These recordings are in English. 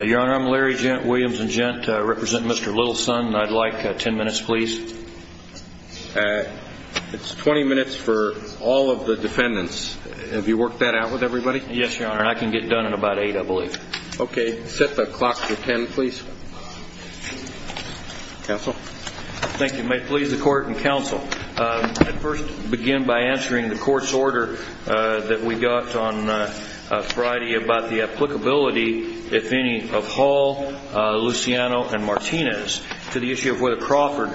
Your Honor, I'm Larry Williams and I represent Mr. Littlesun. I'd like 10 minutes, please. It's 20 minutes for all of the defendants. Have you worked that out with everybody? Yes, Your Honor, and I can get done in about 8, I believe. Okay. Set the clock to 10, please. Counsel? Thank you. May it please the Court and Counsel, I'd first begin by answering the Court's order that we got on Friday about the applicability, if any, of Hall, Luciano, and Martinez to the issue of whether Crawford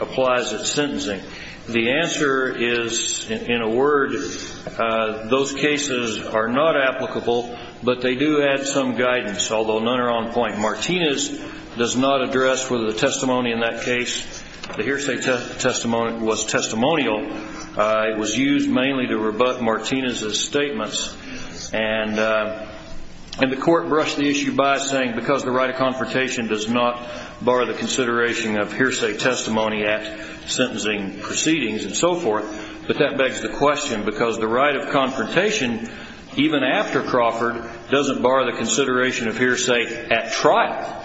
applies its sentencing. The answer is, in a word, those cases are not applicable, but they do add some guidance, although none are on point. Martinez does not address whether the testimony in that case, the hearsay testimony, was testimonial. It was used mainly to rebut Martinez's statements, and the Court brushed the issue by saying, because the right of confrontation does not bar the consideration of hearsay testimony at sentencing proceedings and so forth, but that begs the question, because the right of confrontation, even after Crawford, doesn't bar the consideration of hearsay at trial.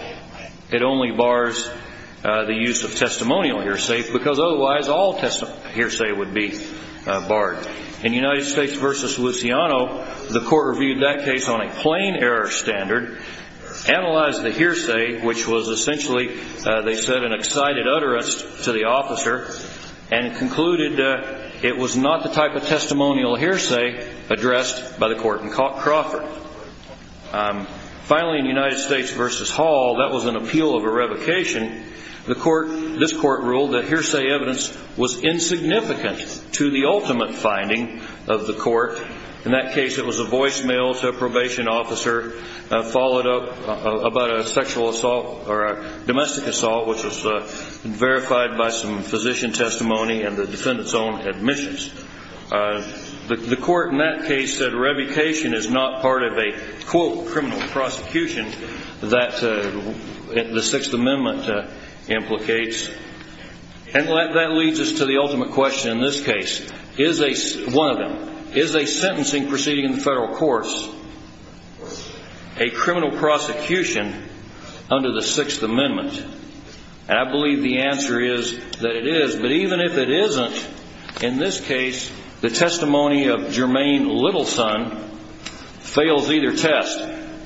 It only bars the use of testimonial hearsay, because otherwise all hearsay would be barred. In United States v. Luciano, the Court reviewed that case on a plain error standard, analyzed the hearsay, which was essentially, they said, an excited utterance to the officer, and concluded it was not the type of testimonial hearsay addressed by the Court in Crawford. Finally, in United States v. Hall, that was an appeal of a revocation. This Court ruled that hearsay evidence was insignificant to the ultimate finding of the Court. In that case, it was a voicemail to a probation officer, followed up by a domestic assault, which was verified by some physician testimony and the defendant's own admissions. The Court in that case said revocation is not part of a, quote, criminal prosecution that the Sixth Amendment implicates. And that leads us to the ultimate question in this case. One of them, is a sentencing proceeding in the federal courts a criminal prosecution under the Sixth Amendment? And I believe the answer is that it is. But even if it isn't, in this case, the testimony of Jermaine Littleson fails either test,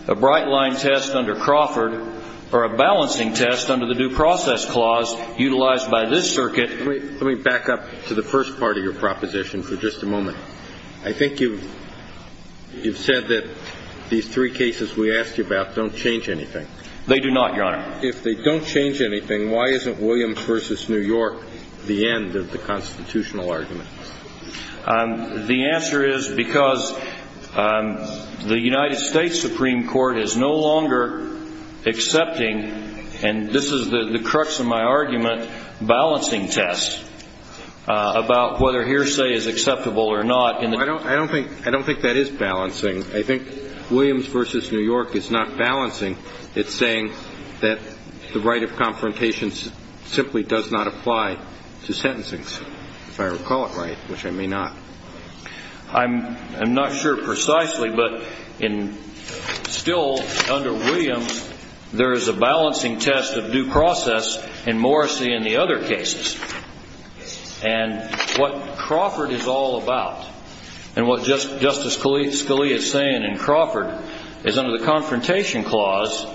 a bright-line test under Crawford or a balancing test under the Due Process Clause utilized by this circuit. Let me back up to the first part of your proposition for just a moment. I think you've said that these three cases we asked you about don't change anything. They do not, Your Honor. If they don't change anything, why isn't Williams v. New York the end of the constitutional argument? The answer is because the United States Supreme Court is no longer accepting, and this is the crux of my argument, balancing tests about whether hearsay is acceptable or not. I don't think that is balancing. I think Williams v. New York is not balancing. It's saying that the right of confrontation simply does not apply to sentencing, if I recall it right, which I may not. I'm not sure precisely, but still under Williams, there is a balancing test of due process in Morrissey and the other cases. And what Crawford is all about and what Justice Scalia is saying in Crawford is under the Confrontation Clause,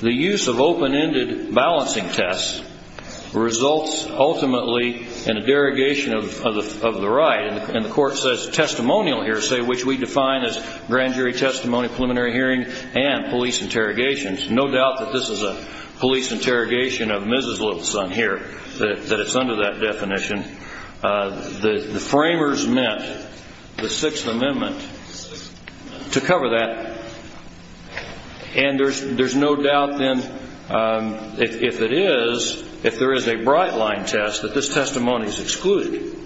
the use of open-ended balancing tests results ultimately in a derogation of the right. And the Court says testimonial hearsay, which we define as grand jury testimony, preliminary hearing, and police interrogations. No doubt that this is a police interrogation of Mrs. Little's son here, that it's under that definition. The framers meant the Sixth Amendment to cover that. And there's no doubt then, if it is, if there is a bright-line test, that this testimony is excluded.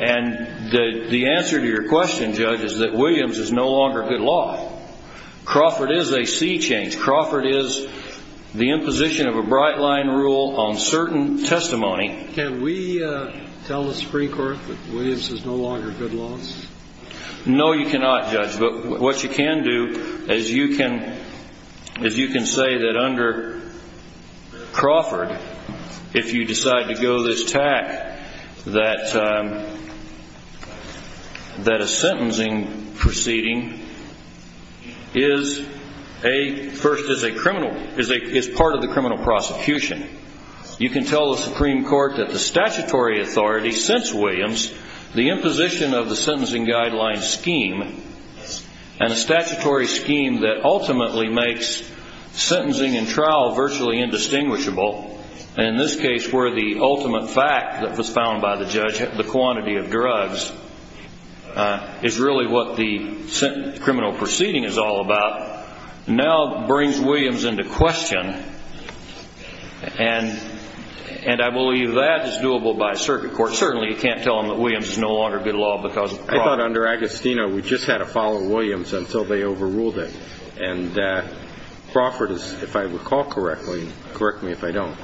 And the answer to your question, Judge, is that Williams is no longer good law. Crawford is a sea change. Crawford is the imposition of a bright-line rule on certain testimony. Can we tell the Supreme Court that Williams is no longer good laws? No, you cannot, Judge. But what you can do is you can say that under Crawford, if you decide to go this tack, that a sentencing proceeding is part of the criminal prosecution. You can tell the Supreme Court that the statutory authority since Williams, the imposition of the sentencing guidelines scheme and a statutory scheme that ultimately makes sentencing and trial virtually indistinguishable, and in this case where the ultimate fact that was found by the judge, the quantity of drugs, is really what the criminal proceeding is all about, now brings Williams into question. And I believe that is doable by a circuit court. Certainly you can't tell them that Williams is no longer good law because of Crawford. I thought under Agostino we just had to follow Williams until they overruled it. And Crawford, if I recall correctly, correct me if I don't,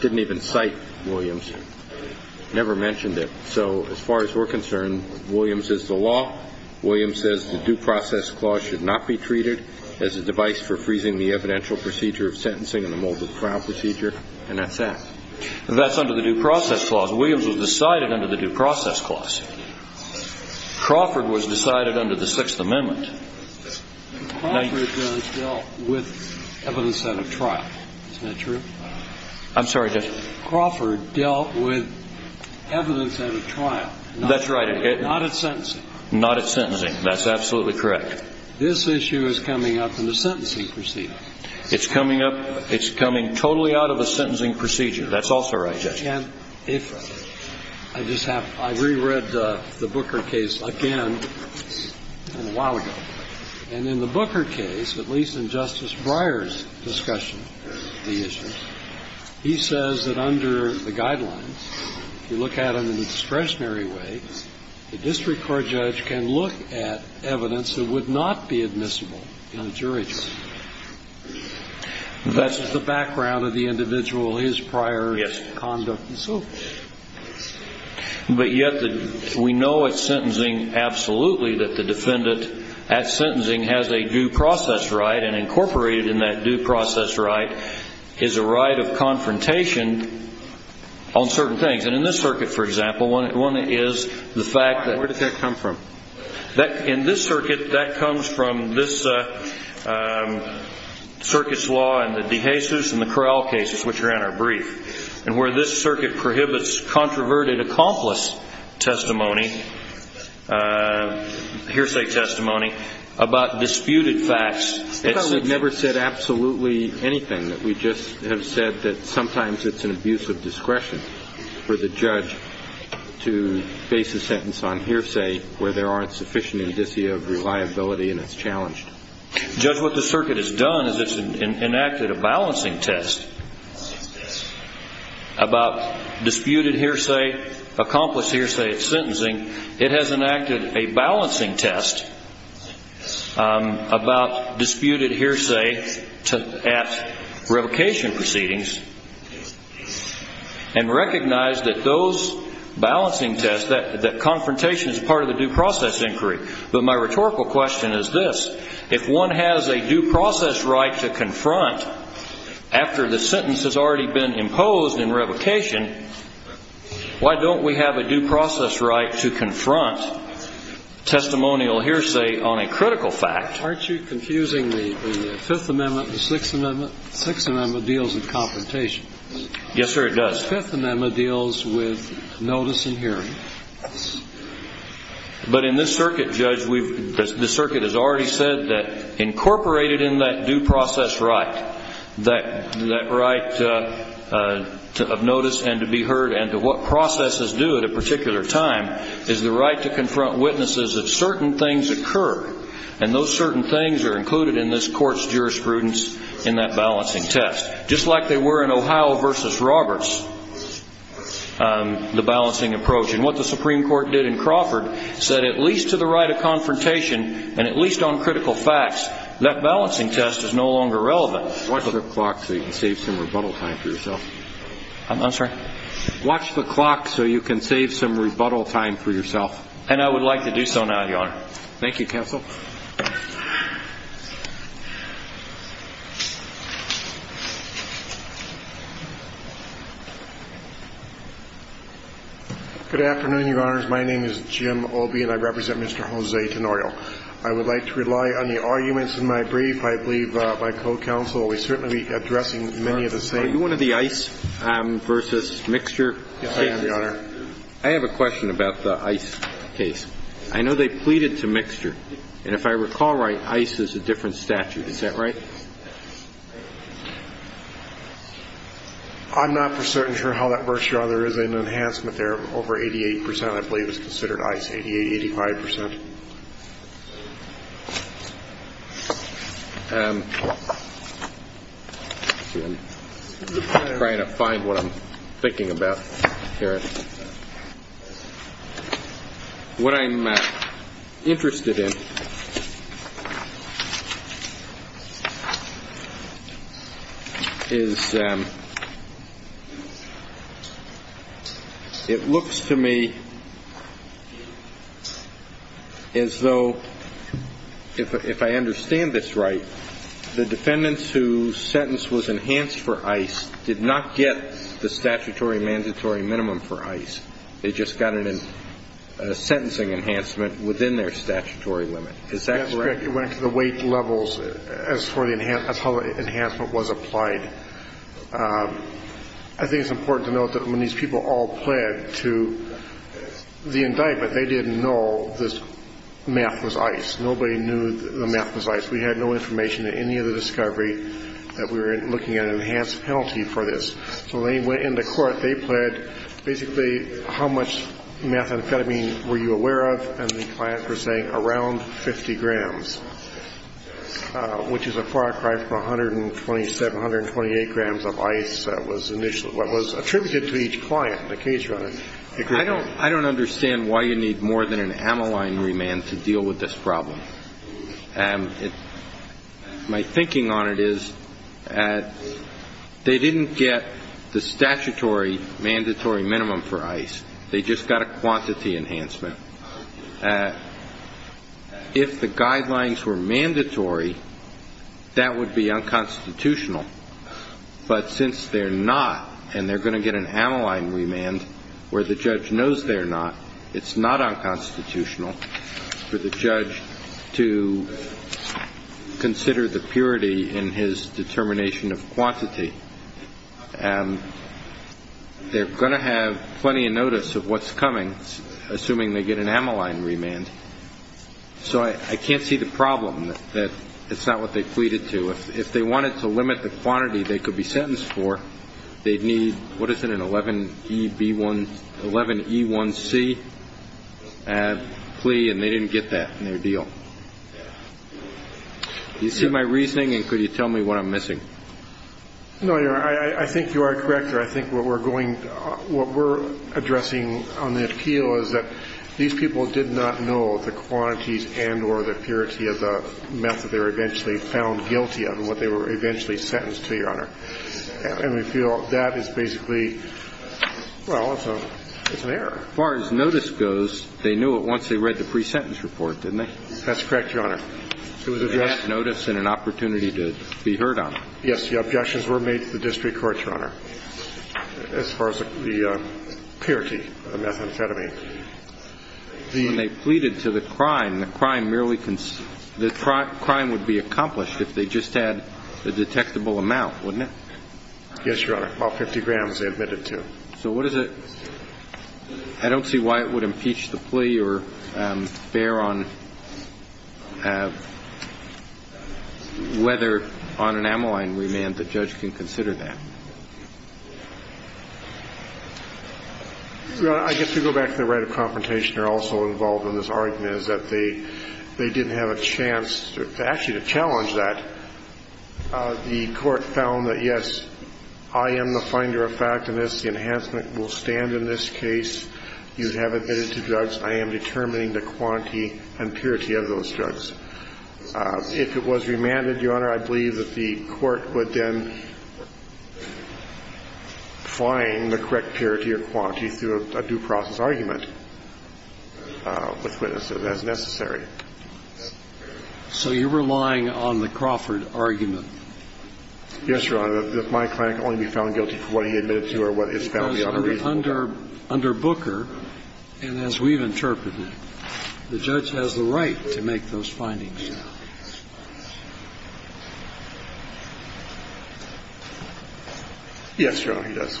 didn't even cite Williams, never mentioned it. So as far as we're concerned, Williams is the law. Williams says the due process clause should not be treated as a device for freezing the evidential procedure of sentencing in the mold of the trial procedure, and that's that. That's under the due process clause. Williams was decided under the due process clause. Crawford was decided under the Sixth Amendment. Crawford dealt with evidence at a trial. Isn't that true? I'm sorry, Judge. Crawford dealt with evidence at a trial. That's right. Not at sentencing. Not at sentencing. That's absolutely correct. This issue is coming up in the sentencing procedure. It's coming up – it's coming totally out of the sentencing procedure. That's also right, Judge. And if – I just have – I reread the Booker case again a while ago. And in the Booker case, at least in Justice Breyer's discussion of the issues, he says that under the guidelines, if you look at them in a discretionary way, the district court judge can look at evidence that would not be admissible in a jury trial. That's the background of the individual, his prior conduct and so forth. But yet we know at sentencing, absolutely, that the defendant at sentencing has a due process right, and incorporated in that due process right is a right of confrontation on certain things. And in this circuit, for example, one is the fact that – Where does that come from? In this circuit, that comes from this circuit's law and the DeJesus and the Corral cases, which are in our brief, and where this circuit prohibits controverted accomplice testimony, hearsay testimony, about disputed facts. It's never said absolutely anything. We just have said that sometimes it's an abuse of discretion for the judge to base a sentence on hearsay where there aren't sufficient indicia of reliability and it's challenged. Judge, what this circuit has done is it's enacted a balancing test about disputed hearsay, accomplice hearsay at sentencing. It has enacted a balancing test about disputed hearsay at revocation proceedings and recognized that those balancing tests, that confrontation is part of the due process inquiry. But my rhetorical question is this. If one has a due process right to confront after the sentence has already been imposed in revocation, why don't we have a due process right to confront testimonial hearsay on a critical fact? Aren't you confusing the Fifth Amendment, the Sixth Amendment? The Sixth Amendment deals with confrontation. Yes, sir, it does. The Fifth Amendment deals with notice and hearing. But in this circuit, Judge, the circuit has already said that incorporated in that due process right, that right of notice and to be heard and to what processes do at a particular time, is the right to confront witnesses if certain things occur, and those certain things are included in this court's jurisprudence in that balancing test, just like they were in Ohio v. Roberts, the balancing approach. And what the Supreme Court did in Crawford said at least to the right of confrontation and at least on critical facts, that balancing test is no longer relevant. Watch the clock so you can save some rebuttal time for yourself. I'm sorry? Watch the clock so you can save some rebuttal time for yourself. And I would like to do so now, Your Honor. Thank you, counsel. Good afternoon, Your Honors. My name is Jim Obey, and I represent Mr. Jose Tenorio. I would like to rely on the arguments in my brief. I believe my co-counsel will certainly be addressing many of the same. Are you one of the Ice v. Mixture case? Yes, I am, Your Honor. I have a question about the Ice case. I know they pleaded to Mixture. And if I recall right, Ice is a different statute. Is that right? I'm not for certain, Your Honor, how that works, Your Honor. There is an enhancement there of over 88 percent I believe is considered Ice, 88, 85 percent. I'm trying to find what I'm thinking about here. What I'm interested in is it looks to me as though, if I understand this right, the defendants whose sentence was enhanced for Ice did not get the statutory mandatory minimum for Ice. They just got a sentencing enhancement within their statutory limit. Is that correct? That's correct. It went to the weight levels as far as how the enhancement was applied. I think it's important to note that when these people all pled to the indictment, they didn't know the math was Ice. Nobody knew the math was Ice. We had no information in any of the discovery that we were looking at an enhanced penalty for this. So when they went into court, they pled basically how much methamphetamine were you aware of, and the clients were saying around 50 grams, which is a far cry from 127, 128 grams of Ice that was attributed to each client, the case runner. I don't understand why you need more than an Amoline remand to deal with this problem. My thinking on it is they didn't get the statutory mandatory minimum for Ice. They just got a quantity enhancement. If the guidelines were mandatory, that would be unconstitutional. But since they're not, and they're going to get an Amoline remand where the judge knows they're not, it's not unconstitutional for the judge to consider the purity in his determination of quantity. And they're going to have plenty of notice of what's coming, assuming they get an Amoline remand. So I can't see the problem that it's not what they pleaded to. If they wanted to limit the quantity they could be sentenced for, they'd need, what is it, an 11E1C plea, and they didn't get that in their deal. Do you see my reasoning, and could you tell me what I'm missing? No, Your Honor. I think you are correct there. I think what we're addressing on the appeal is that these people did not know the quantities and or the purity of the meth that they were eventually found guilty of and what they were eventually sentenced to, Your Honor. And we feel that is basically, well, it's an error. As far as notice goes, they knew it once they read the pre-sentence report, didn't they? That's correct, Your Honor. It was addressed in an opportunity to be heard on. Yes, the objections were made to the district court, Your Honor, as far as the purity of methamphetamine. When they pleaded to the crime, the crime would be accomplished if they just had a detectable amount, wouldn't it? Yes, Your Honor. About 50 grams they admitted to. So what is it? I don't see why it would impeach the plea or bear on whether on an amyline remand the judge can consider that. Your Honor, I guess we go back to the right of confrontation. They're also involved in this argument is that they didn't have a chance to actually challenge that. The court found that, yes, I am the finder of fact in this. The enhancement will stand in this case. You have admitted to drugs. I am determining the quantity and purity of those drugs. If it was remanded, Your Honor, I believe that the court would then find the correct purity or quantity through a due process argument with witnesses as necessary. So you're relying on the Crawford argument. Yes, Your Honor. My client can only be found guilty for what he admitted to or what is found to be unreasonable. Under Booker, and as we've interpreted it, the judge has the right to make those findings. Yes, Your Honor, he does.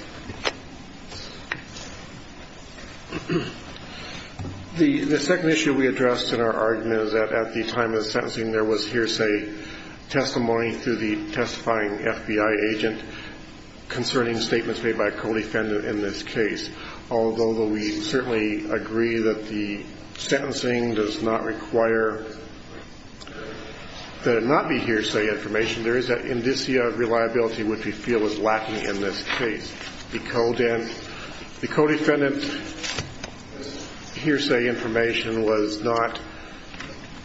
The second issue we addressed in our argument is that at the time of the sentencing there was hearsay testimony through the testifying FBI agent concerning statements made by a co-defendant in this case. Although we certainly agree that the sentencing does not require that it not be hearsay information, there is an indicia of reliability which we feel is lacking in this case. The co-defendant hearsay information was not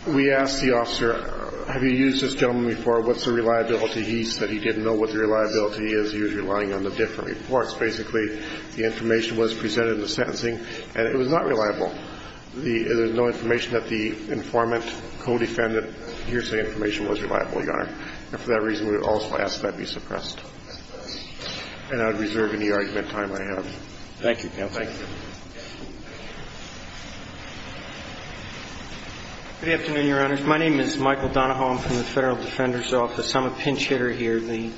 we asked the officer, have you used this gentleman before? What's the reliability? He said he didn't know what the reliability is. He was relying on the different reports. Basically, the information was presented in the sentencing, and it was not reliable. There's no information that the informant, co-defendant hearsay information was reliable, Your Honor. And for that reason, we would also ask that it be suppressed. And I would reserve any argument time I have. Thank you, counsel. Thank you. Good afternoon, Your Honors. My name is Michael Donahoe. I'm from the Federal Defender's Office. I'm a pinch hitter here. The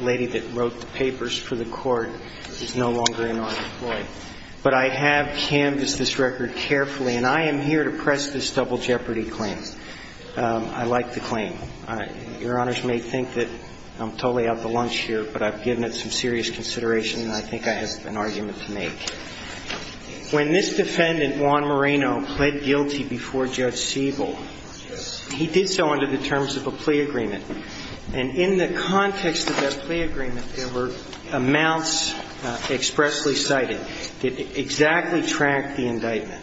lady that wrote the papers for the Court is no longer in our employ. But I have canvassed this record carefully, and I am here to press this double jeopardy claim. I like the claim. Your Honors may think that I'm totally out of the lunch here, but I've given it some serious consideration, and I think I have an argument to make. When this defendant, Juan Moreno, pled guilty before Judge Siebel, he did so under the terms of a plea agreement. And in the context of that plea agreement, there were amounts expressly cited that exactly tracked the indictment.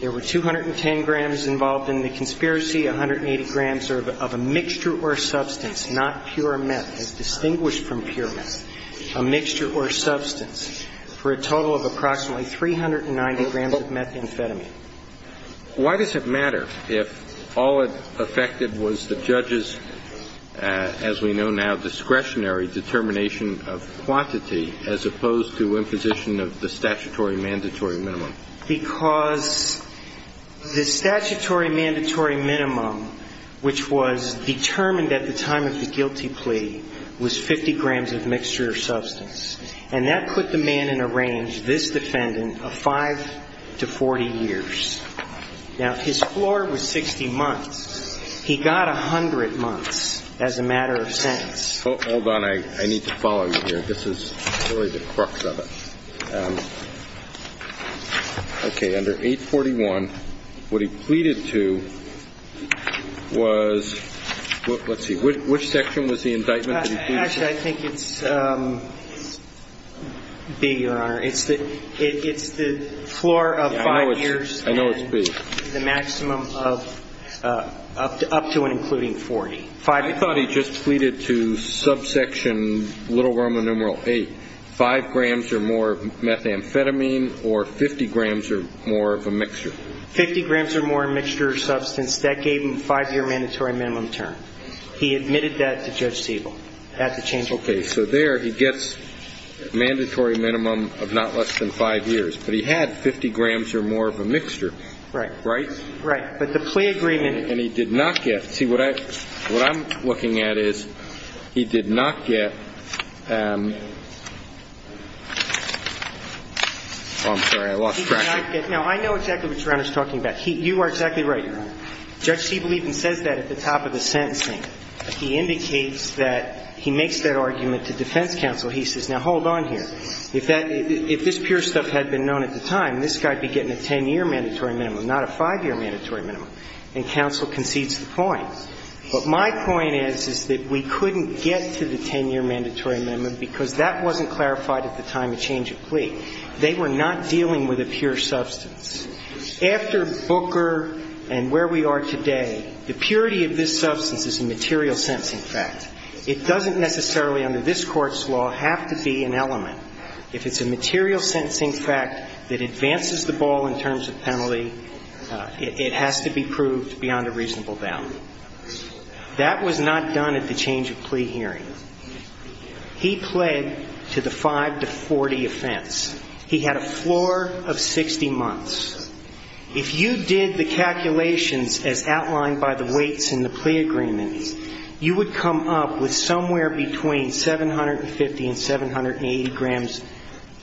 There were 210 grams involved in the conspiracy, 180 grams of a mixture or substance, not pure meth, as distinguished from pure meth, a mixture or substance, for a total of approximately 390 grams of methamphetamine. Why does it matter if all it affected was the judge's, as we know now, discretionary determination of quantity, as opposed to imposition of the statutory mandatory minimum? Because the statutory mandatory minimum, which was determined at the time of the guilty plea, was 50 grams of mixture or substance. And that put the man in a range, this defendant, of 5 to 40 years. Now, his floor was 60 months. He got 100 months as a matter of sentence. Hold on. I need to follow you here. This is really the crux of it. Okay. Under 841, what he pleaded to was, let's see, which section was the indictment that he pleaded to? Actually, I think it's B, Your Honor. It's the floor of 5 years and the maximum of up to and including 40. I thought he just pleaded to subsection little roman numeral 8, 5 grams or more of methamphetamine or 50 grams or more of a mixture. 50 grams or more of mixture or substance. That gave him a 5-year mandatory minimum term. He admitted that to Judge Siegel. Okay. So there he gets mandatory minimum of not less than 5 years. But he had 50 grams or more of a mixture. Right. Right? Right. But the plea agreement. And he did not get. See, what I'm looking at is he did not get. Oh, I'm sorry. I lost track. He did not get. Now, I know exactly what Your Honor is talking about. You are exactly right, Your Honor. Judge Siegel even says that at the top of the sentencing. He indicates that he makes that argument to defense counsel. He says, now, hold on here. If this pure stuff had been known at the time, this guy would be getting a 10-year mandatory minimum, not a 5-year mandatory minimum. And counsel concedes the point. But my point is, is that we couldn't get to the 10-year mandatory minimum because that wasn't clarified at the time of change of plea. They were not dealing with a pure substance. After Booker and where we are today, the purity of this substance is a material sense, in fact. It doesn't necessarily, under this Court's law, have to be an element. If it's a material sentencing fact that advances the ball in terms of penalty, it has to be proved beyond a reasonable doubt. That was not done at the change of plea hearing. He pled to the 5-40 offense. He had a floor of 60 months. If you did the calculations as outlined by the weights in the plea agreement, you would come up with somewhere between 750 and 780 grams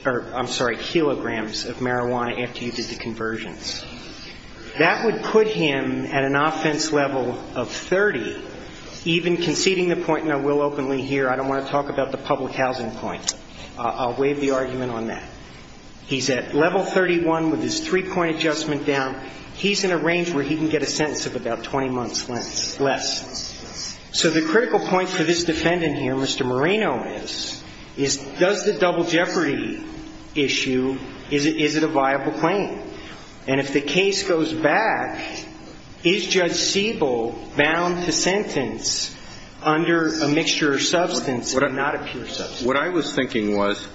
or, I'm sorry, kilograms of marijuana after you did the conversions. That would put him at an offense level of 30, even conceding the point, and I will openly here, I don't want to talk about the public housing point. I'll waive the argument on that. He's at level 31 with his three-point adjustment down. He's in a range where he can get a sentence of about 20 months less. So the critical point for this defendant here, Mr. Marino is, is does the double jeopardy issue, is it a viable claim? And if the case goes back, is Judge Siebel bound to sentence under a mixture of substance and not a pure substance? What I was thinking was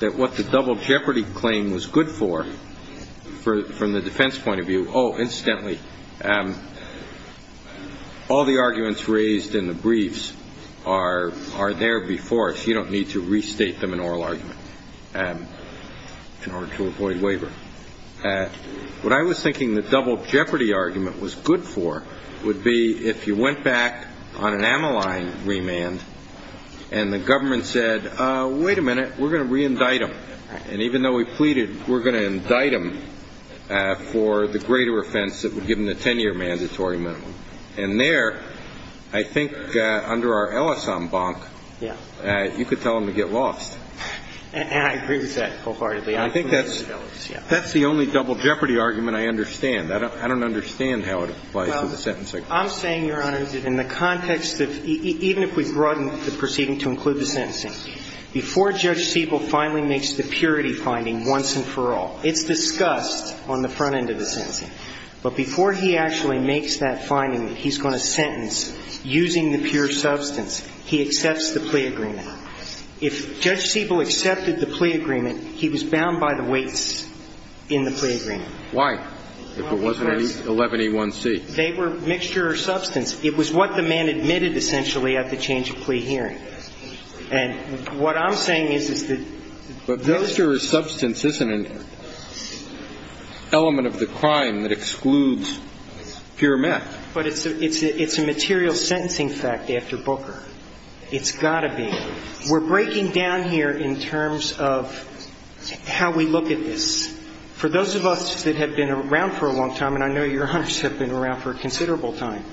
that what the double jeopardy claim was good for, from the defense point of view, oh, incidentally, all the arguments raised in the briefs are there before us. You don't need to restate them in oral argument in order to avoid waiver. What I was thinking the double jeopardy argument was good for would be if you went back on an amyline remand and the government said, wait a minute, we're going to reindict him. And even though he pleaded, we're going to indict him for the greater offense that would give him the 10-year mandatory minimum. And there, I think under our Ellis en banc, you could tell him to get lost. And I agree with that wholeheartedly. I think that's the only double jeopardy argument I understand. I don't understand how it applies to the sentencing. I'm saying, Your Honor, that in the context of even if we broaden the proceeding to include the sentencing, before Judge Siebel finally makes the purity finding once and for all, it's discussed on the front end of the sentencing. But before he actually makes that finding that he's going to sentence using the pure substance, he accepts the plea agreement. If Judge Siebel accepted the plea agreement, he was bound by the weights in the plea agreement. Why? If it wasn't 11A1C? They were mixture or substance. It was what the man admitted, essentially, at the change of plea hearing. And what I'm saying is, is that the ---- But mixture or substance isn't an element of the crime that excludes pure meth. But it's a material sentencing fact after Booker. It's got to be. We're breaking down here in terms of how we look at this. For those of us that have been around for a long time, and I know Your Honors have been around for a considerable time,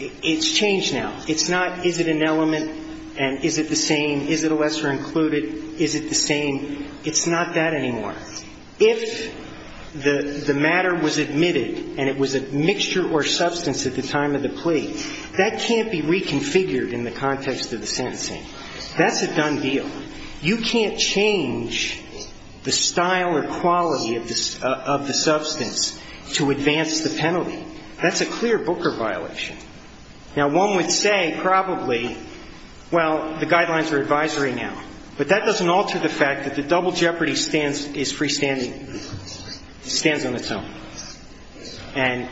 it's changed now. It's not is it an element and is it the same, is it a lesser included, is it the same. It's not that anymore. If the matter was admitted and it was a mixture or substance at the time of the plea, that can't be reconfigured in the context of the sentencing. That's a done deal. You can't change the style or quality of the substance to advance the penalty. That's a clear Booker violation. Now, one would say probably, well, the guidelines are advisory now. But that doesn't alter the fact that the double jeopardy is freestanding. It stands on its own. And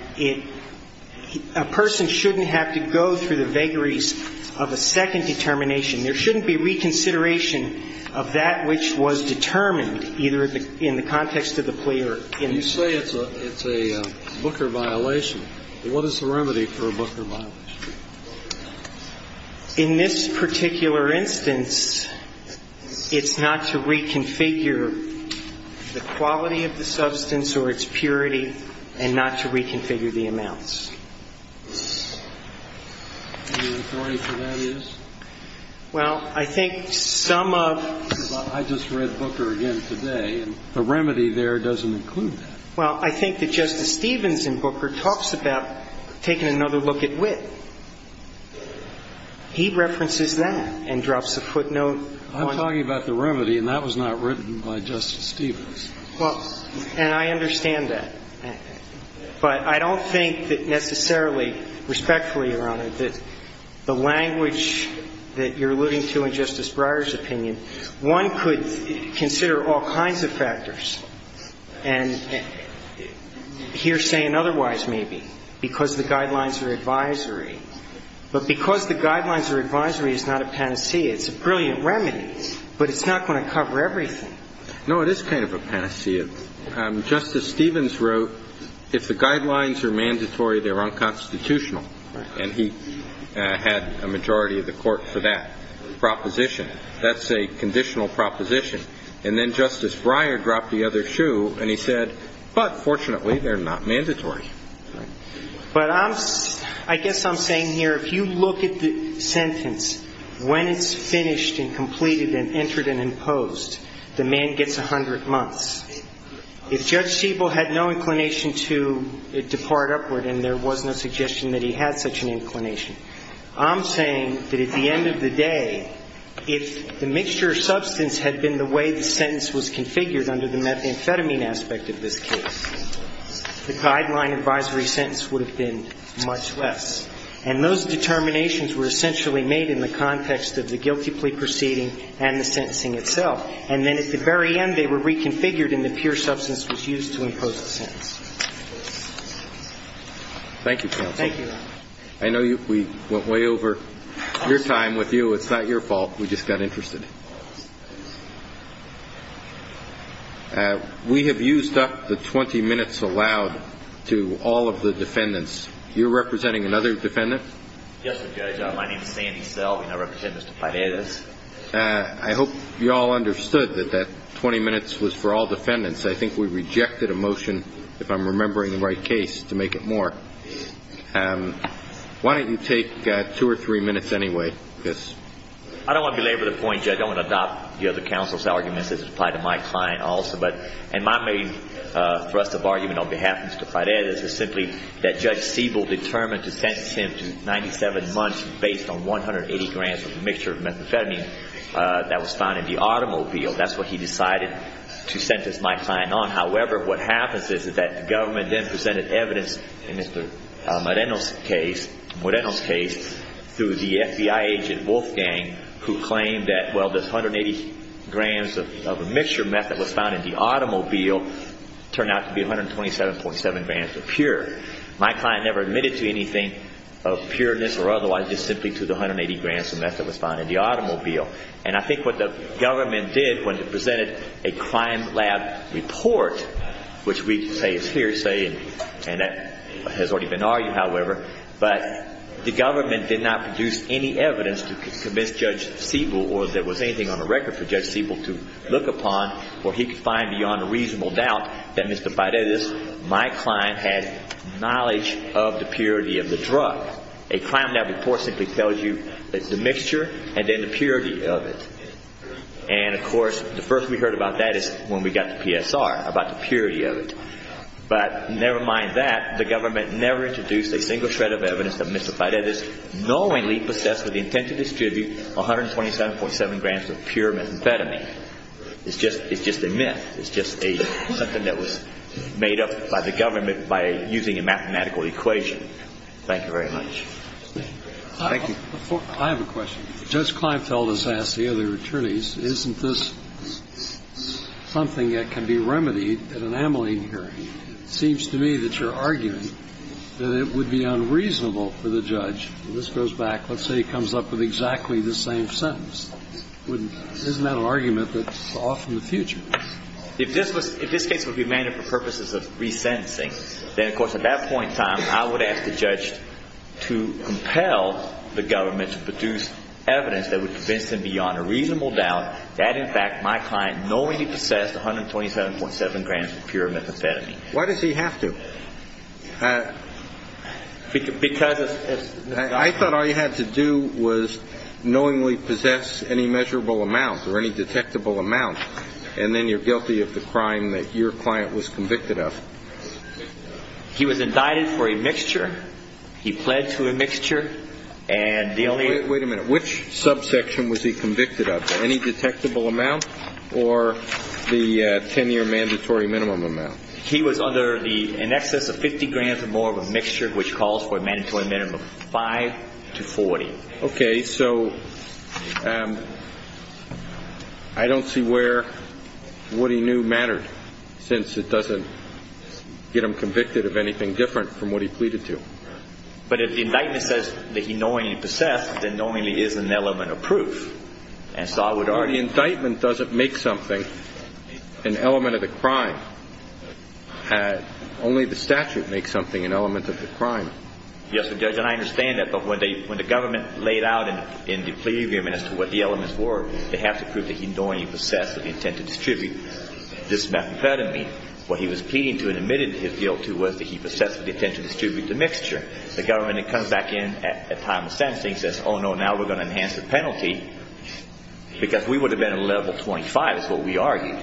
a person shouldn't have to go through the vagaries of a second determination. There shouldn't be reconsideration of that which was determined either in the context of the plea or in the case. You say it's a Booker violation. What is the remedy for a Booker violation? In this particular instance, it's not to reconfigure the quality of the substance or its purity and not to reconfigure the amounts. And the authority for that is? Well, I think some of the... I just read Booker again today. The remedy there doesn't include that. Well, I think that Justice Stevens in Booker talks about taking another look at wit. He references that and drops a footnote on... I'm talking about the remedy, and that was not written by Justice Stevens. Well, and I understand that. But I don't think that necessarily, respectfully, Your Honor, that the language that you're alluding to in Justice Breyer's opinion, one could consider all kinds of factors, hearsay and otherwise maybe, because the guidelines are advisory. But because the guidelines are advisory is not a panacea. It's a brilliant remedy, but it's not going to cover everything. No, it is kind of a panacea. Justice Stevens wrote, if the guidelines are mandatory, they're unconstitutional. And he had a majority of the court for that proposition. That's a conditional proposition. And then Justice Breyer dropped the other shoe, and he said, but fortunately, they're not mandatory. But I guess I'm saying here, if you look at the sentence, when it's finished and completed and entered and imposed, the man gets 100 months. If Judge Siebel had no inclination to depart upward, and there was no suggestion that he had such an inclination, I'm saying that at the end of the day, if the mixture of substance had been the way the sentence was configured under the methamphetamine aspect of this case, the guideline advisory sentence would have been much less. And those determinations were essentially made in the context of the guilty plea proceeding and the sentencing itself. And then at the very end, they were reconfigured, and the pure substance was used to impose the sentence. Thank you, counsel. Thank you. I know we went way over your time with you. It's not your fault. We just got interested. We have used up the 20 minutes allowed to all of the defendants. You're representing another defendant? Yes, sir, Judge. My name is Sandy Selby, and I represent Mr. Paredes. I hope you all understood that that 20 minutes was for all defendants. I think we rejected a motion, if I'm remembering the right case, to make it more. Why don't you take two or three minutes anyway? I don't want to belabor the point, Judge. I want to adopt the other counsel's arguments as applied to my client also. And my main thrust of argument on behalf of Mr. Paredes is simply that Judge Siebel determined to sentence him to 97 months based on 180 grams of a mixture of methamphetamine that was found in the automobile. That's what he decided to sentence my client on. However, what happens is that the government then presented evidence in Mr. Moreno's case through the FBI agent Wolfgang, who claimed that, well, this 180 grams of a mixture meth that was found in the automobile turned out to be 127.7 grams of pure. My client never admitted to anything of pureness or otherwise, just simply to the 180 grams of meth that was found in the automobile. And I think what the government did when it presented a crime lab report, which we say is hearsay and that has already been argued, however, but the government did not produce any evidence to convince Judge Siebel or if there was anything on the record for Judge Siebel to look upon where he could find beyond a reasonable doubt that Mr. Paredes, my client, had knowledge of the purity of the drug. A crime lab report simply tells you the mixture and then the purity of it. And, of course, the first we heard about that is when we got to PSR about the purity of it. But never mind that. The government never introduced a single shred of evidence that Mr. Paredes knowingly possessed with the intent to distribute 127.7 grams of pure methamphetamine. It's just a myth. It's just something that was made up by the government by using a mathematical equation. Thank you very much. Thank you. I have a question. Judge Kleinfeld has asked the other attorneys, isn't this something that can be remedied at an amyline hearing? It seems to me that you're arguing that it would be unreasonable for the judge, and this goes back, let's say he comes up with exactly the same sentence. Isn't that an argument that's off in the future? If this case would be amended for purposes of resentencing, then, of course, at that point in time, I would ask the judge to compel the government to produce evidence that would convince him beyond a reasonable doubt that, in fact, my client knowingly possessed 127.7 grams of pure methamphetamine. Why does he have to? I thought all you had to do was knowingly possess any measurable amount or any detectable amount, and then you're guilty of the crime that your client was convicted of. He was indicted for a mixture. He pled to a mixture. Wait a minute. Which subsection was he convicted of, any detectable amount or the 10-year mandatory minimum amount? He was under the in excess of 50 grams or more of a mixture, which calls for a mandatory minimum of 5 to 40. Okay, so I don't see where what he knew mattered, since it doesn't get him convicted of anything different from what he pleaded to. But if the indictment says that he knowingly possessed, then knowingly is an element of proof. The indictment doesn't make something an element of the crime. Only the statute makes something an element of the crime. Yes, Judge, and I understand that. But when the government laid out in the plea agreement as to what the elements were, they have to prove that he knowingly possessed with the intent to distribute this methamphetamine. What he was pleading to and admitted his guilt to was that he possessed with the intent to distribute the mixture. The government comes back in at time of sentencing and says, oh, no, now we're going to enhance the penalty, because we would have been at a level 25, is what we argued.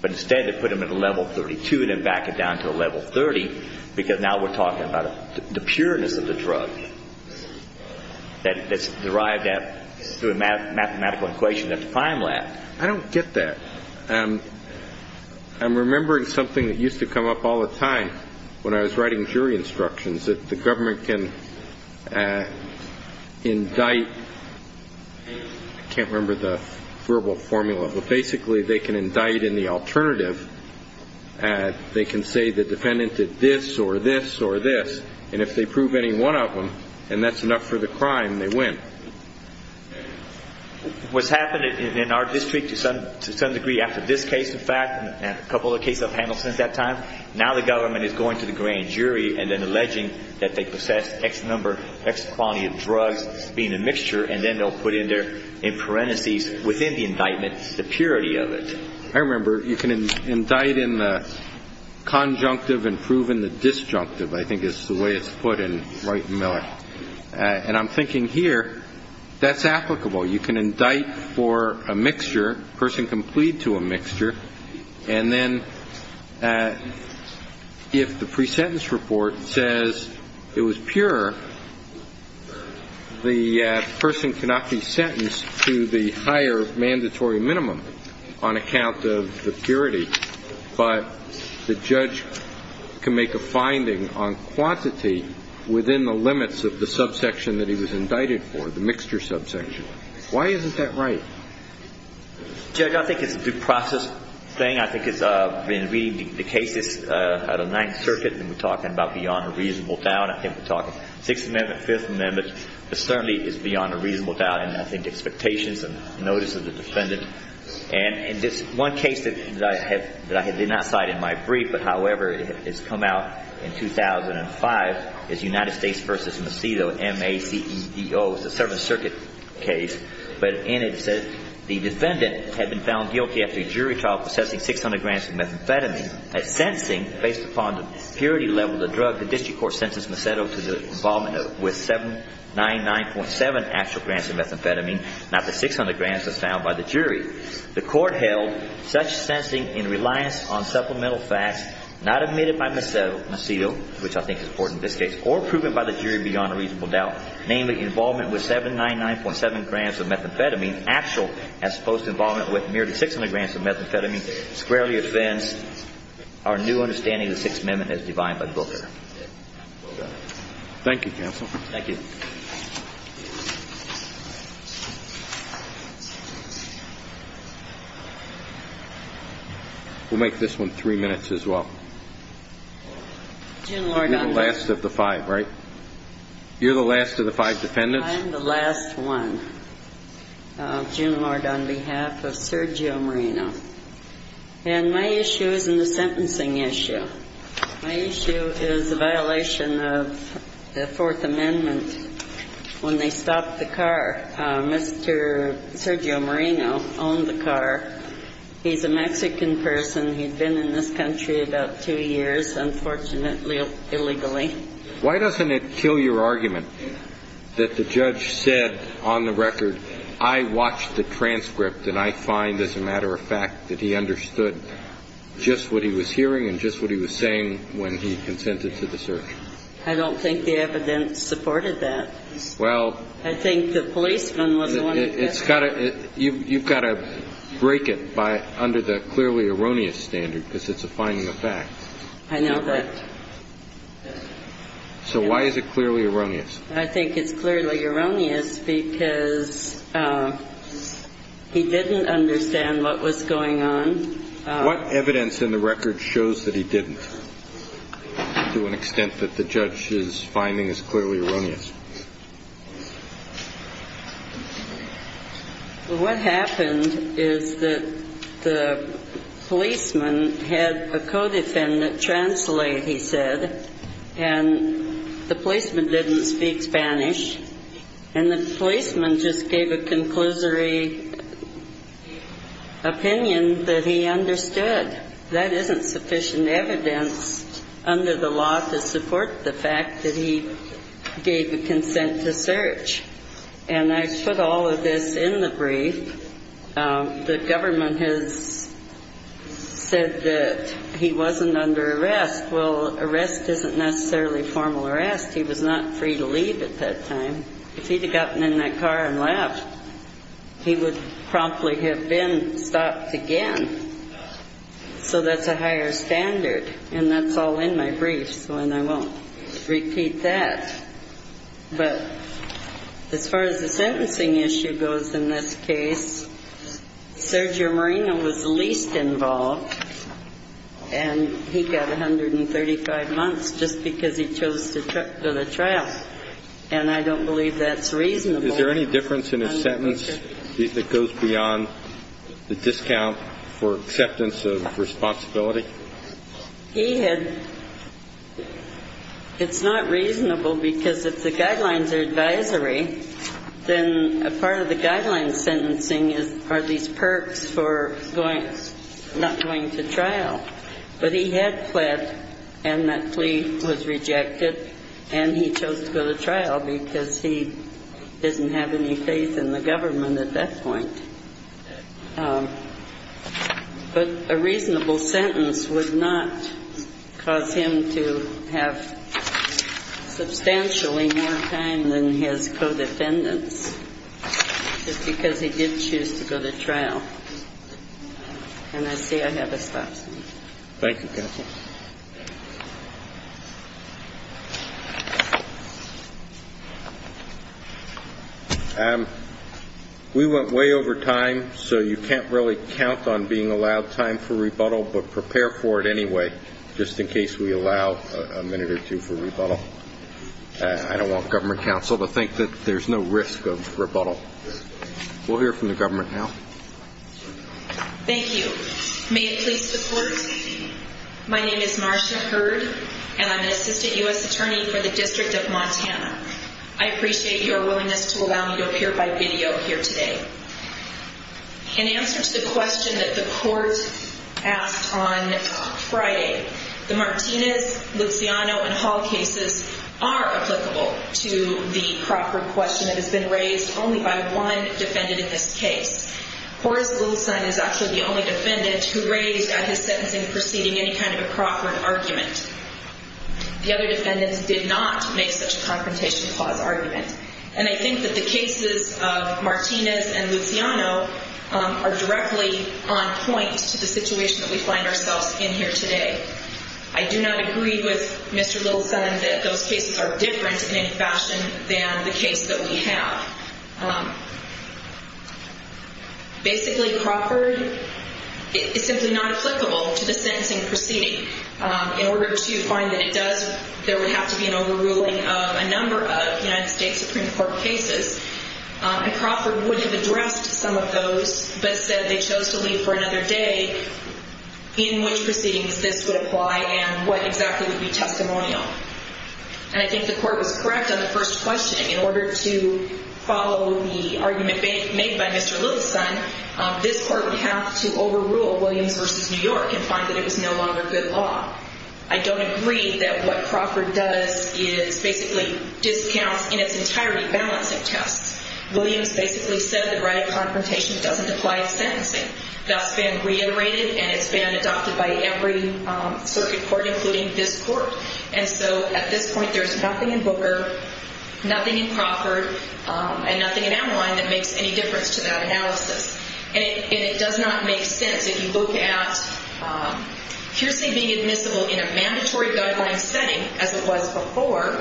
But instead, they put him at a level 32 and then back it down to a level 30, because now we're talking about the pureness of the drug that's derived through a mathematical equation at the time lab. I don't get that. I'm remembering something that used to come up all the time when I was writing jury instructions, that the government can indict. I can't remember the verbal formula. But basically, they can indict in the alternative. They can say the defendant did this or this or this. And if they prove any one of them and that's enough for the crime, they win. What's happened in our district, to some degree, after this case, in fact, and a couple of cases I've handled since that time, now the government is going to the grand jury and then alleging that they possess X number, X quantity of drugs being a mixture, and then they'll put in parentheses within the indictment the purity of it. I remember you can indict in the conjunctive and prove in the disjunctive, I think is the way it's put in Wright and Miller. And I'm thinking here, that's applicable. You can indict for a mixture. A person can plead to a mixture. And then if the pre-sentence report says it was pure, the person cannot be sentenced to the higher mandatory minimum on account of the purity. But the judge can make a finding on quantity within the limits of the subsection that he was indicted for, the mixture subsection. Why isn't that right? Judge, I think it's a due process thing. I think it's been reading the cases out of the Ninth Circuit, and we're talking about beyond a reasonable doubt. I think we're talking Sixth Amendment, Fifth Amendment. It certainly is beyond a reasonable doubt. And I think expectations and notice of the defendant. And this one case that I did not cite in my brief but, however, has come out in 2005 is United States v. Macedo, M-A-C-E-D-O. It's a Seventh Circuit case. But in it, it says the defendant had been found guilty after a jury trial possessing 600 grams of methamphetamine. Based upon the purity level of the drug, the district court sentenced Macedo to the involvement with 799.7 actual grams of methamphetamine, not the 600 grams as found by the jury. The court held such sensing in reliance on supplemental facts not admitted by Macedo, which I think is important in this case, or proven by the jury beyond a reasonable doubt, namely involvement with 799.7 grams of methamphetamine, actual as opposed to involvement with merely 600 grams of methamphetamine. It squarely offends our new understanding of the Sixth Amendment as defined by Booker. Thank you, counsel. Thank you. We'll make this one three minutes as well. You're the last of the five, right? You're the last of the five defendants? I'm the last one, June Lord, on behalf of Sergio Moreno. And my issue isn't a sentencing issue. My issue is a violation of the Fourth Amendment. When they stopped the car, Mr. Sergio Moreno owned the car. He's a Mexican person. He'd been in this country about two years, unfortunately, illegally. Why doesn't it kill your argument that the judge said, on the record, I watched the transcript and I find, as a matter of fact, that he understood just what he was hearing and just what he was saying when he consented to the search? I don't think the evidence supported that. Well. I think the policeman was the one who did. You've got to break it under the clearly erroneous standard because it's a finding of fact. I know that. So why is it clearly erroneous? I think it's clearly erroneous because he didn't understand what was going on. What evidence in the record shows that he didn't to an extent that the judge's finding is clearly erroneous? Well, what happened is that the policeman had a co-defendant translate, he said, and the policeman didn't speak Spanish, and the policeman just gave a conclusory opinion that he understood. That isn't sufficient evidence under the law to support the fact that he gave a consent to search. And I put all of this in the brief. The government has said that he wasn't under arrest. Well, arrest isn't necessarily formal arrest. He was not free to leave at that time. If he'd have gotten in that car and left, he would promptly have been stopped again. So that's a higher standard. And that's all in my brief. And I won't repeat that. But as far as the sentencing issue goes in this case, Sergio Moreno was the least involved. And he got 135 months just because he chose to go to trial. And I don't believe that's reasonable. Is there any difference in his sentence that goes beyond the discount for acceptance of responsibility? He had – it's not reasonable because if the guidelines are advisory, then a part of the guidelines sentencing are these perks for not going to trial. But he had pled, and that plea was rejected, and he chose to go to trial because he didn't have any faith in the government at that point. But a reasonable sentence would not cause him to have substantially more time than his co-defendants just because he did choose to go to trial. And I see I have a stop sign. Thank you, Counsel. We went way over time, so you can't really count on being allowed time for rebuttal, but prepare for it anyway just in case we allow a minute or two for rebuttal. I don't want government counsel to think that there's no risk of rebuttal. We'll hear from the government now. Thank you. May it please the Court, my name is Marsha Hurd, and I'm an assistant U.S. attorney for the District of Montana. I appreciate your willingness to allow me to appear by video here today. In answer to the question that the Court asked on Friday, the Martinez, Luciano, and Hall cases are applicable to the Crawford question that has been raised only by one defendant in this case. Horace Wilson is actually the only defendant who raised at his sentencing proceeding any kind of a Crawford argument. The other defendants did not make such a confrontation clause argument. And I think that the cases of Martinez and Luciano are directly on point to the situation that we find ourselves in here today. I do not agree with Mr. Little's son that those cases are different in any fashion than the case that we have. Basically, Crawford is simply not applicable to the sentencing proceeding. In order to find that it does, there would have to be an overruling of a number of United States Supreme Court cases. And Crawford would have addressed some of those, but said they chose to leave for another day, in which proceedings this would apply and what exactly would be testimonial. And I think the Court was correct on the first question. In order to follow the argument made by Mr. Little's son, this Court would have to overrule Williams v. New York and find that it was no longer good law. I don't agree that what Crawford does is basically discounts in its entirety balancing tests. Williams basically said that right of confrontation doesn't apply to sentencing. That's been reiterated, and it's been adopted by every circuit court, including this Court. And so at this point, there's nothing in Booker, nothing in Crawford, and nothing in Ameline that makes any difference to that analysis. And it does not make sense. If you look at hearsay being admissible in a mandatory guideline setting, as it was before,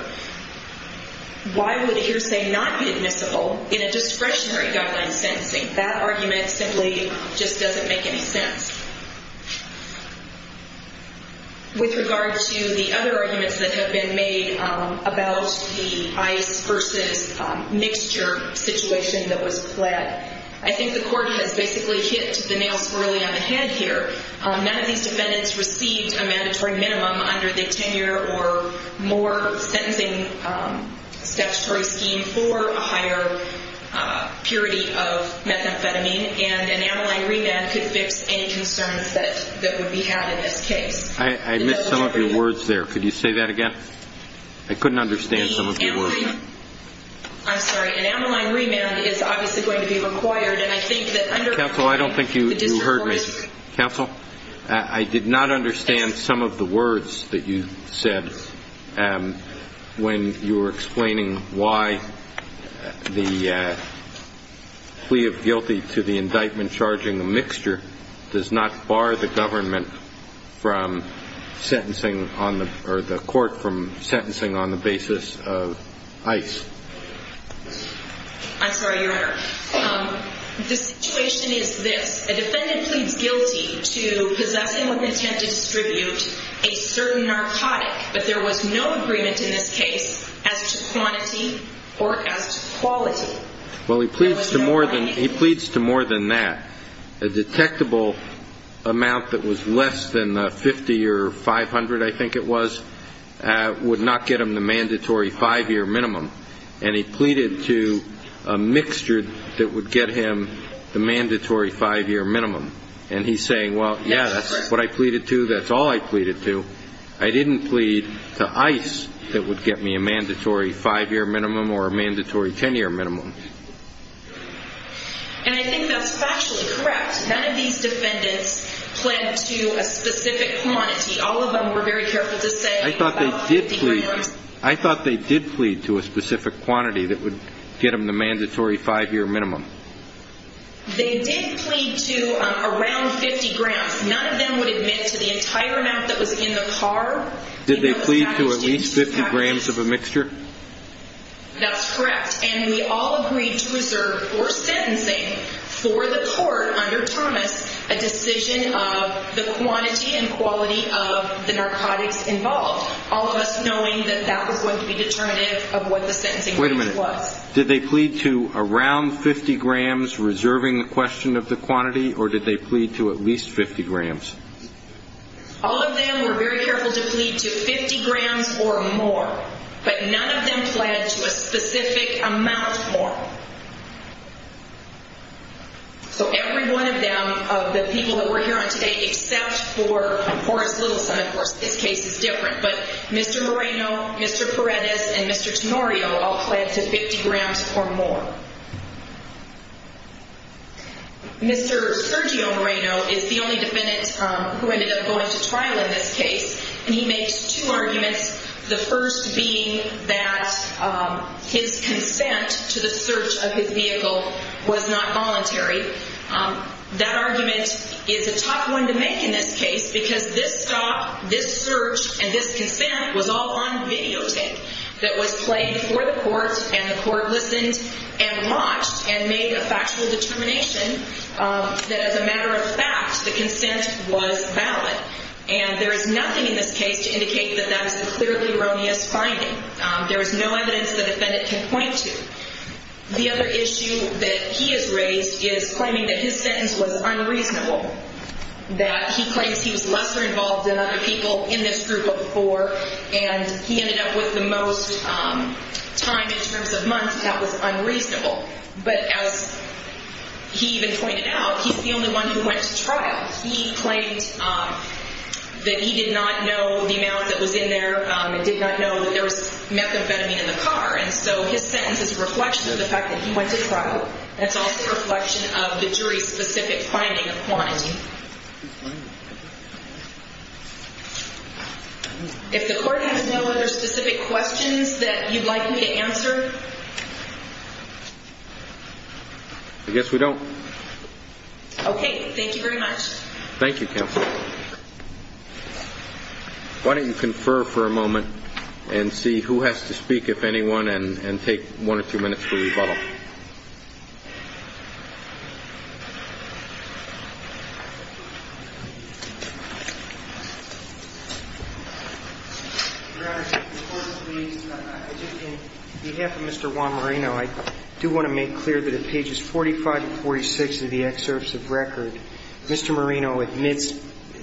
why would hearsay not be admissible in a discretionary guideline sentencing? That argument simply just doesn't make any sense. With regard to the other arguments that have been made about the ice versus mixture situation that was pled, I think the Court has basically hit the nail swirly on the head here. None of these defendants received a mandatory minimum under the 10-year or more sentencing statutory scheme for a higher purity of methamphetamine, and an Ameline remand could fix any concerns that would be had in this case. I missed some of your words there. Could you say that again? I couldn't understand some of your words. I'm sorry. An Ameline remand is obviously going to be required. And I think that under- Counsel, I don't think you heard me. Counsel, I did not understand some of the words that you said when you were explaining why the plea of guilty to the indictment does not bar the government from sentencing or the court from sentencing on the basis of ice. I'm sorry, Your Honor. The situation is this. A defendant pleads guilty to possessing with intent to distribute a certain narcotic, but there was no agreement in this case as to quantity or as to quality. Well, he pleads to more than that. A detectable amount that was less than 50 or 500, I think it was, would not get him the mandatory five-year minimum. And he pleaded to a mixture that would get him the mandatory five-year minimum. And he's saying, well, yeah, that's what I pleaded to, that's all I pleaded to. I didn't plead to ice that would get me a mandatory five-year minimum or a mandatory ten-year minimum. And I think that's factually correct. None of these defendants pled to a specific quantity. All of them were very careful to say about 50 grams. I thought they did plead to a specific quantity that would get them the mandatory five-year minimum. They did plead to around 50 grams. None of them would admit to the entire amount that was in the car. Did they plead to at least 50 grams of a mixture? That's correct. And we all agreed to reserve for sentencing for the court under Thomas a decision of the quantity and quality of the narcotics involved, all of us knowing that that was going to be determinative of what the sentencing was. Wait a minute. Did they plead to around 50 grams, reserving the question of the quantity, or did they plead to at least 50 grams? All of them were very careful to plead to 50 grams or more. But none of them pled to a specific amount more. So every one of them, of the people that we're hearing today, except for Horace Littleson, of course, this case is different. But Mr. Moreno, Mr. Paredes, and Mr. Tenorio all pled to 50 grams or more. Mr. Sergio Moreno is the only defendant who ended up going to trial in this case. And he makes two arguments, the first being that his consent to the search of his vehicle was not voluntary. That argument is a tough one to make in this case because this stop, this search, and this consent was all on videotape that was played for the court. And the court listened and watched and made a factual determination that as a matter of fact, the consent was valid. And there is nothing in this case to indicate that that is a clearly erroneous finding. There is no evidence the defendant can point to. The other issue that he has raised is claiming that his sentence was unreasonable, that he claims he was lesser involved than other people in this group of four, and he ended up with the most time in terms of months. That was unreasonable. But as he even pointed out, he's the only one who went to trial. He claimed that he did not know the amount that was in there and did not know that there was methamphetamine in the car. And so his sentence is a reflection of the fact that he went to trial. It's also a reflection of the jury's specific finding of quantity. If the court has no other specific questions that you'd like me to answer? I guess we don't. Okay. Thank you very much. Thank you, counsel. Why don't you confer for a moment and see who has to speak, if anyone, and take one or two minutes for rebuttal. Your Honor, if the court would please. On behalf of Mr. Juan Marino, I do want to make clear that in pages 45 to 46 of the excerpts of record, Mr. Marino admits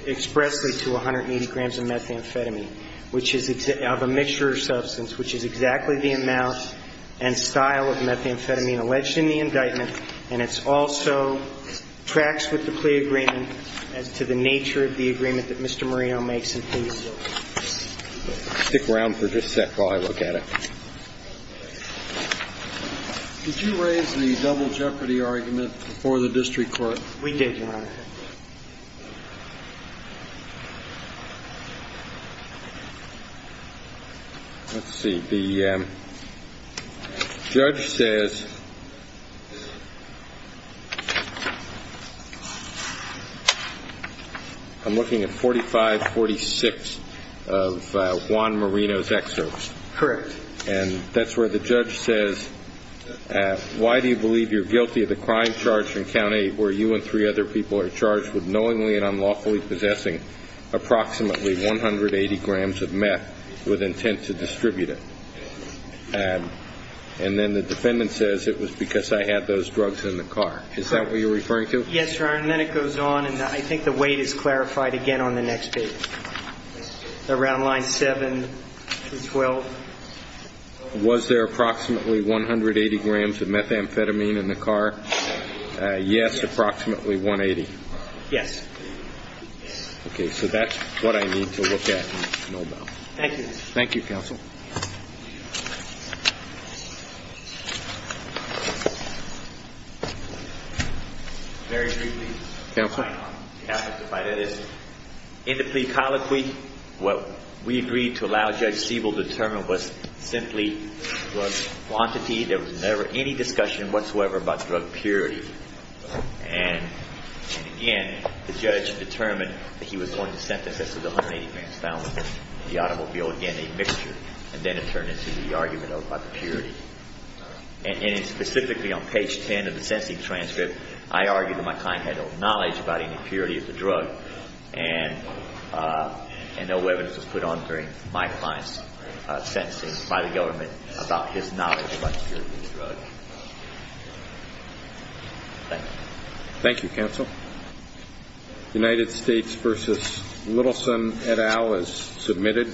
expressly to 180 grams of methamphetamine, which is of a mixture of substance, which is exactly the amount and style of methamphetamine alleged in the indictment. And it also tracks with the plea agreement as to the nature of the agreement that Mr. Marino makes in page 46. Stick around for just a sec while I look at it. Did you raise the double jeopardy argument before the district court? We did, Your Honor. Let's see. The judge says I'm looking at 45, 46 of Juan Marino's excerpts. Correct. And that's where the judge says, why do you believe you're guilty of the crime charged in count eight where you and three other people are charged with knowingly and unlawfully possessing approximately 180 grams of meth with intent to distribute it? And then the defendant says it was because I had those drugs in the car. Is that what you're referring to? Yes, Your Honor. And then it goes on, and I think the weight is clarified again on the next page. Around line seven to 12. Was there approximately 180 grams of methamphetamine in the car? Yes, approximately 180. Yes. Okay, so that's what I need to look at. Thank you. Thank you, counsel. Very briefly. Counsel? In the plea colloquy, what we agreed to allow Judge Siebel to determine was simply drug quantity. There was never any discussion whatsoever about drug purity. And, again, the judge determined that he was going to sentence us to the 180 grams found in the automobile, again, a mixture. And then it turned into the argument about purity. And specifically on page 10 of the sentencing transcript, I argued that my client had no knowledge about any purity of the drug. And no evidence was put on during my client's sentencing by the government about his knowledge about the purity of the drug. Thank you. Thank you, counsel. United States v. Littleson et al. is submitted.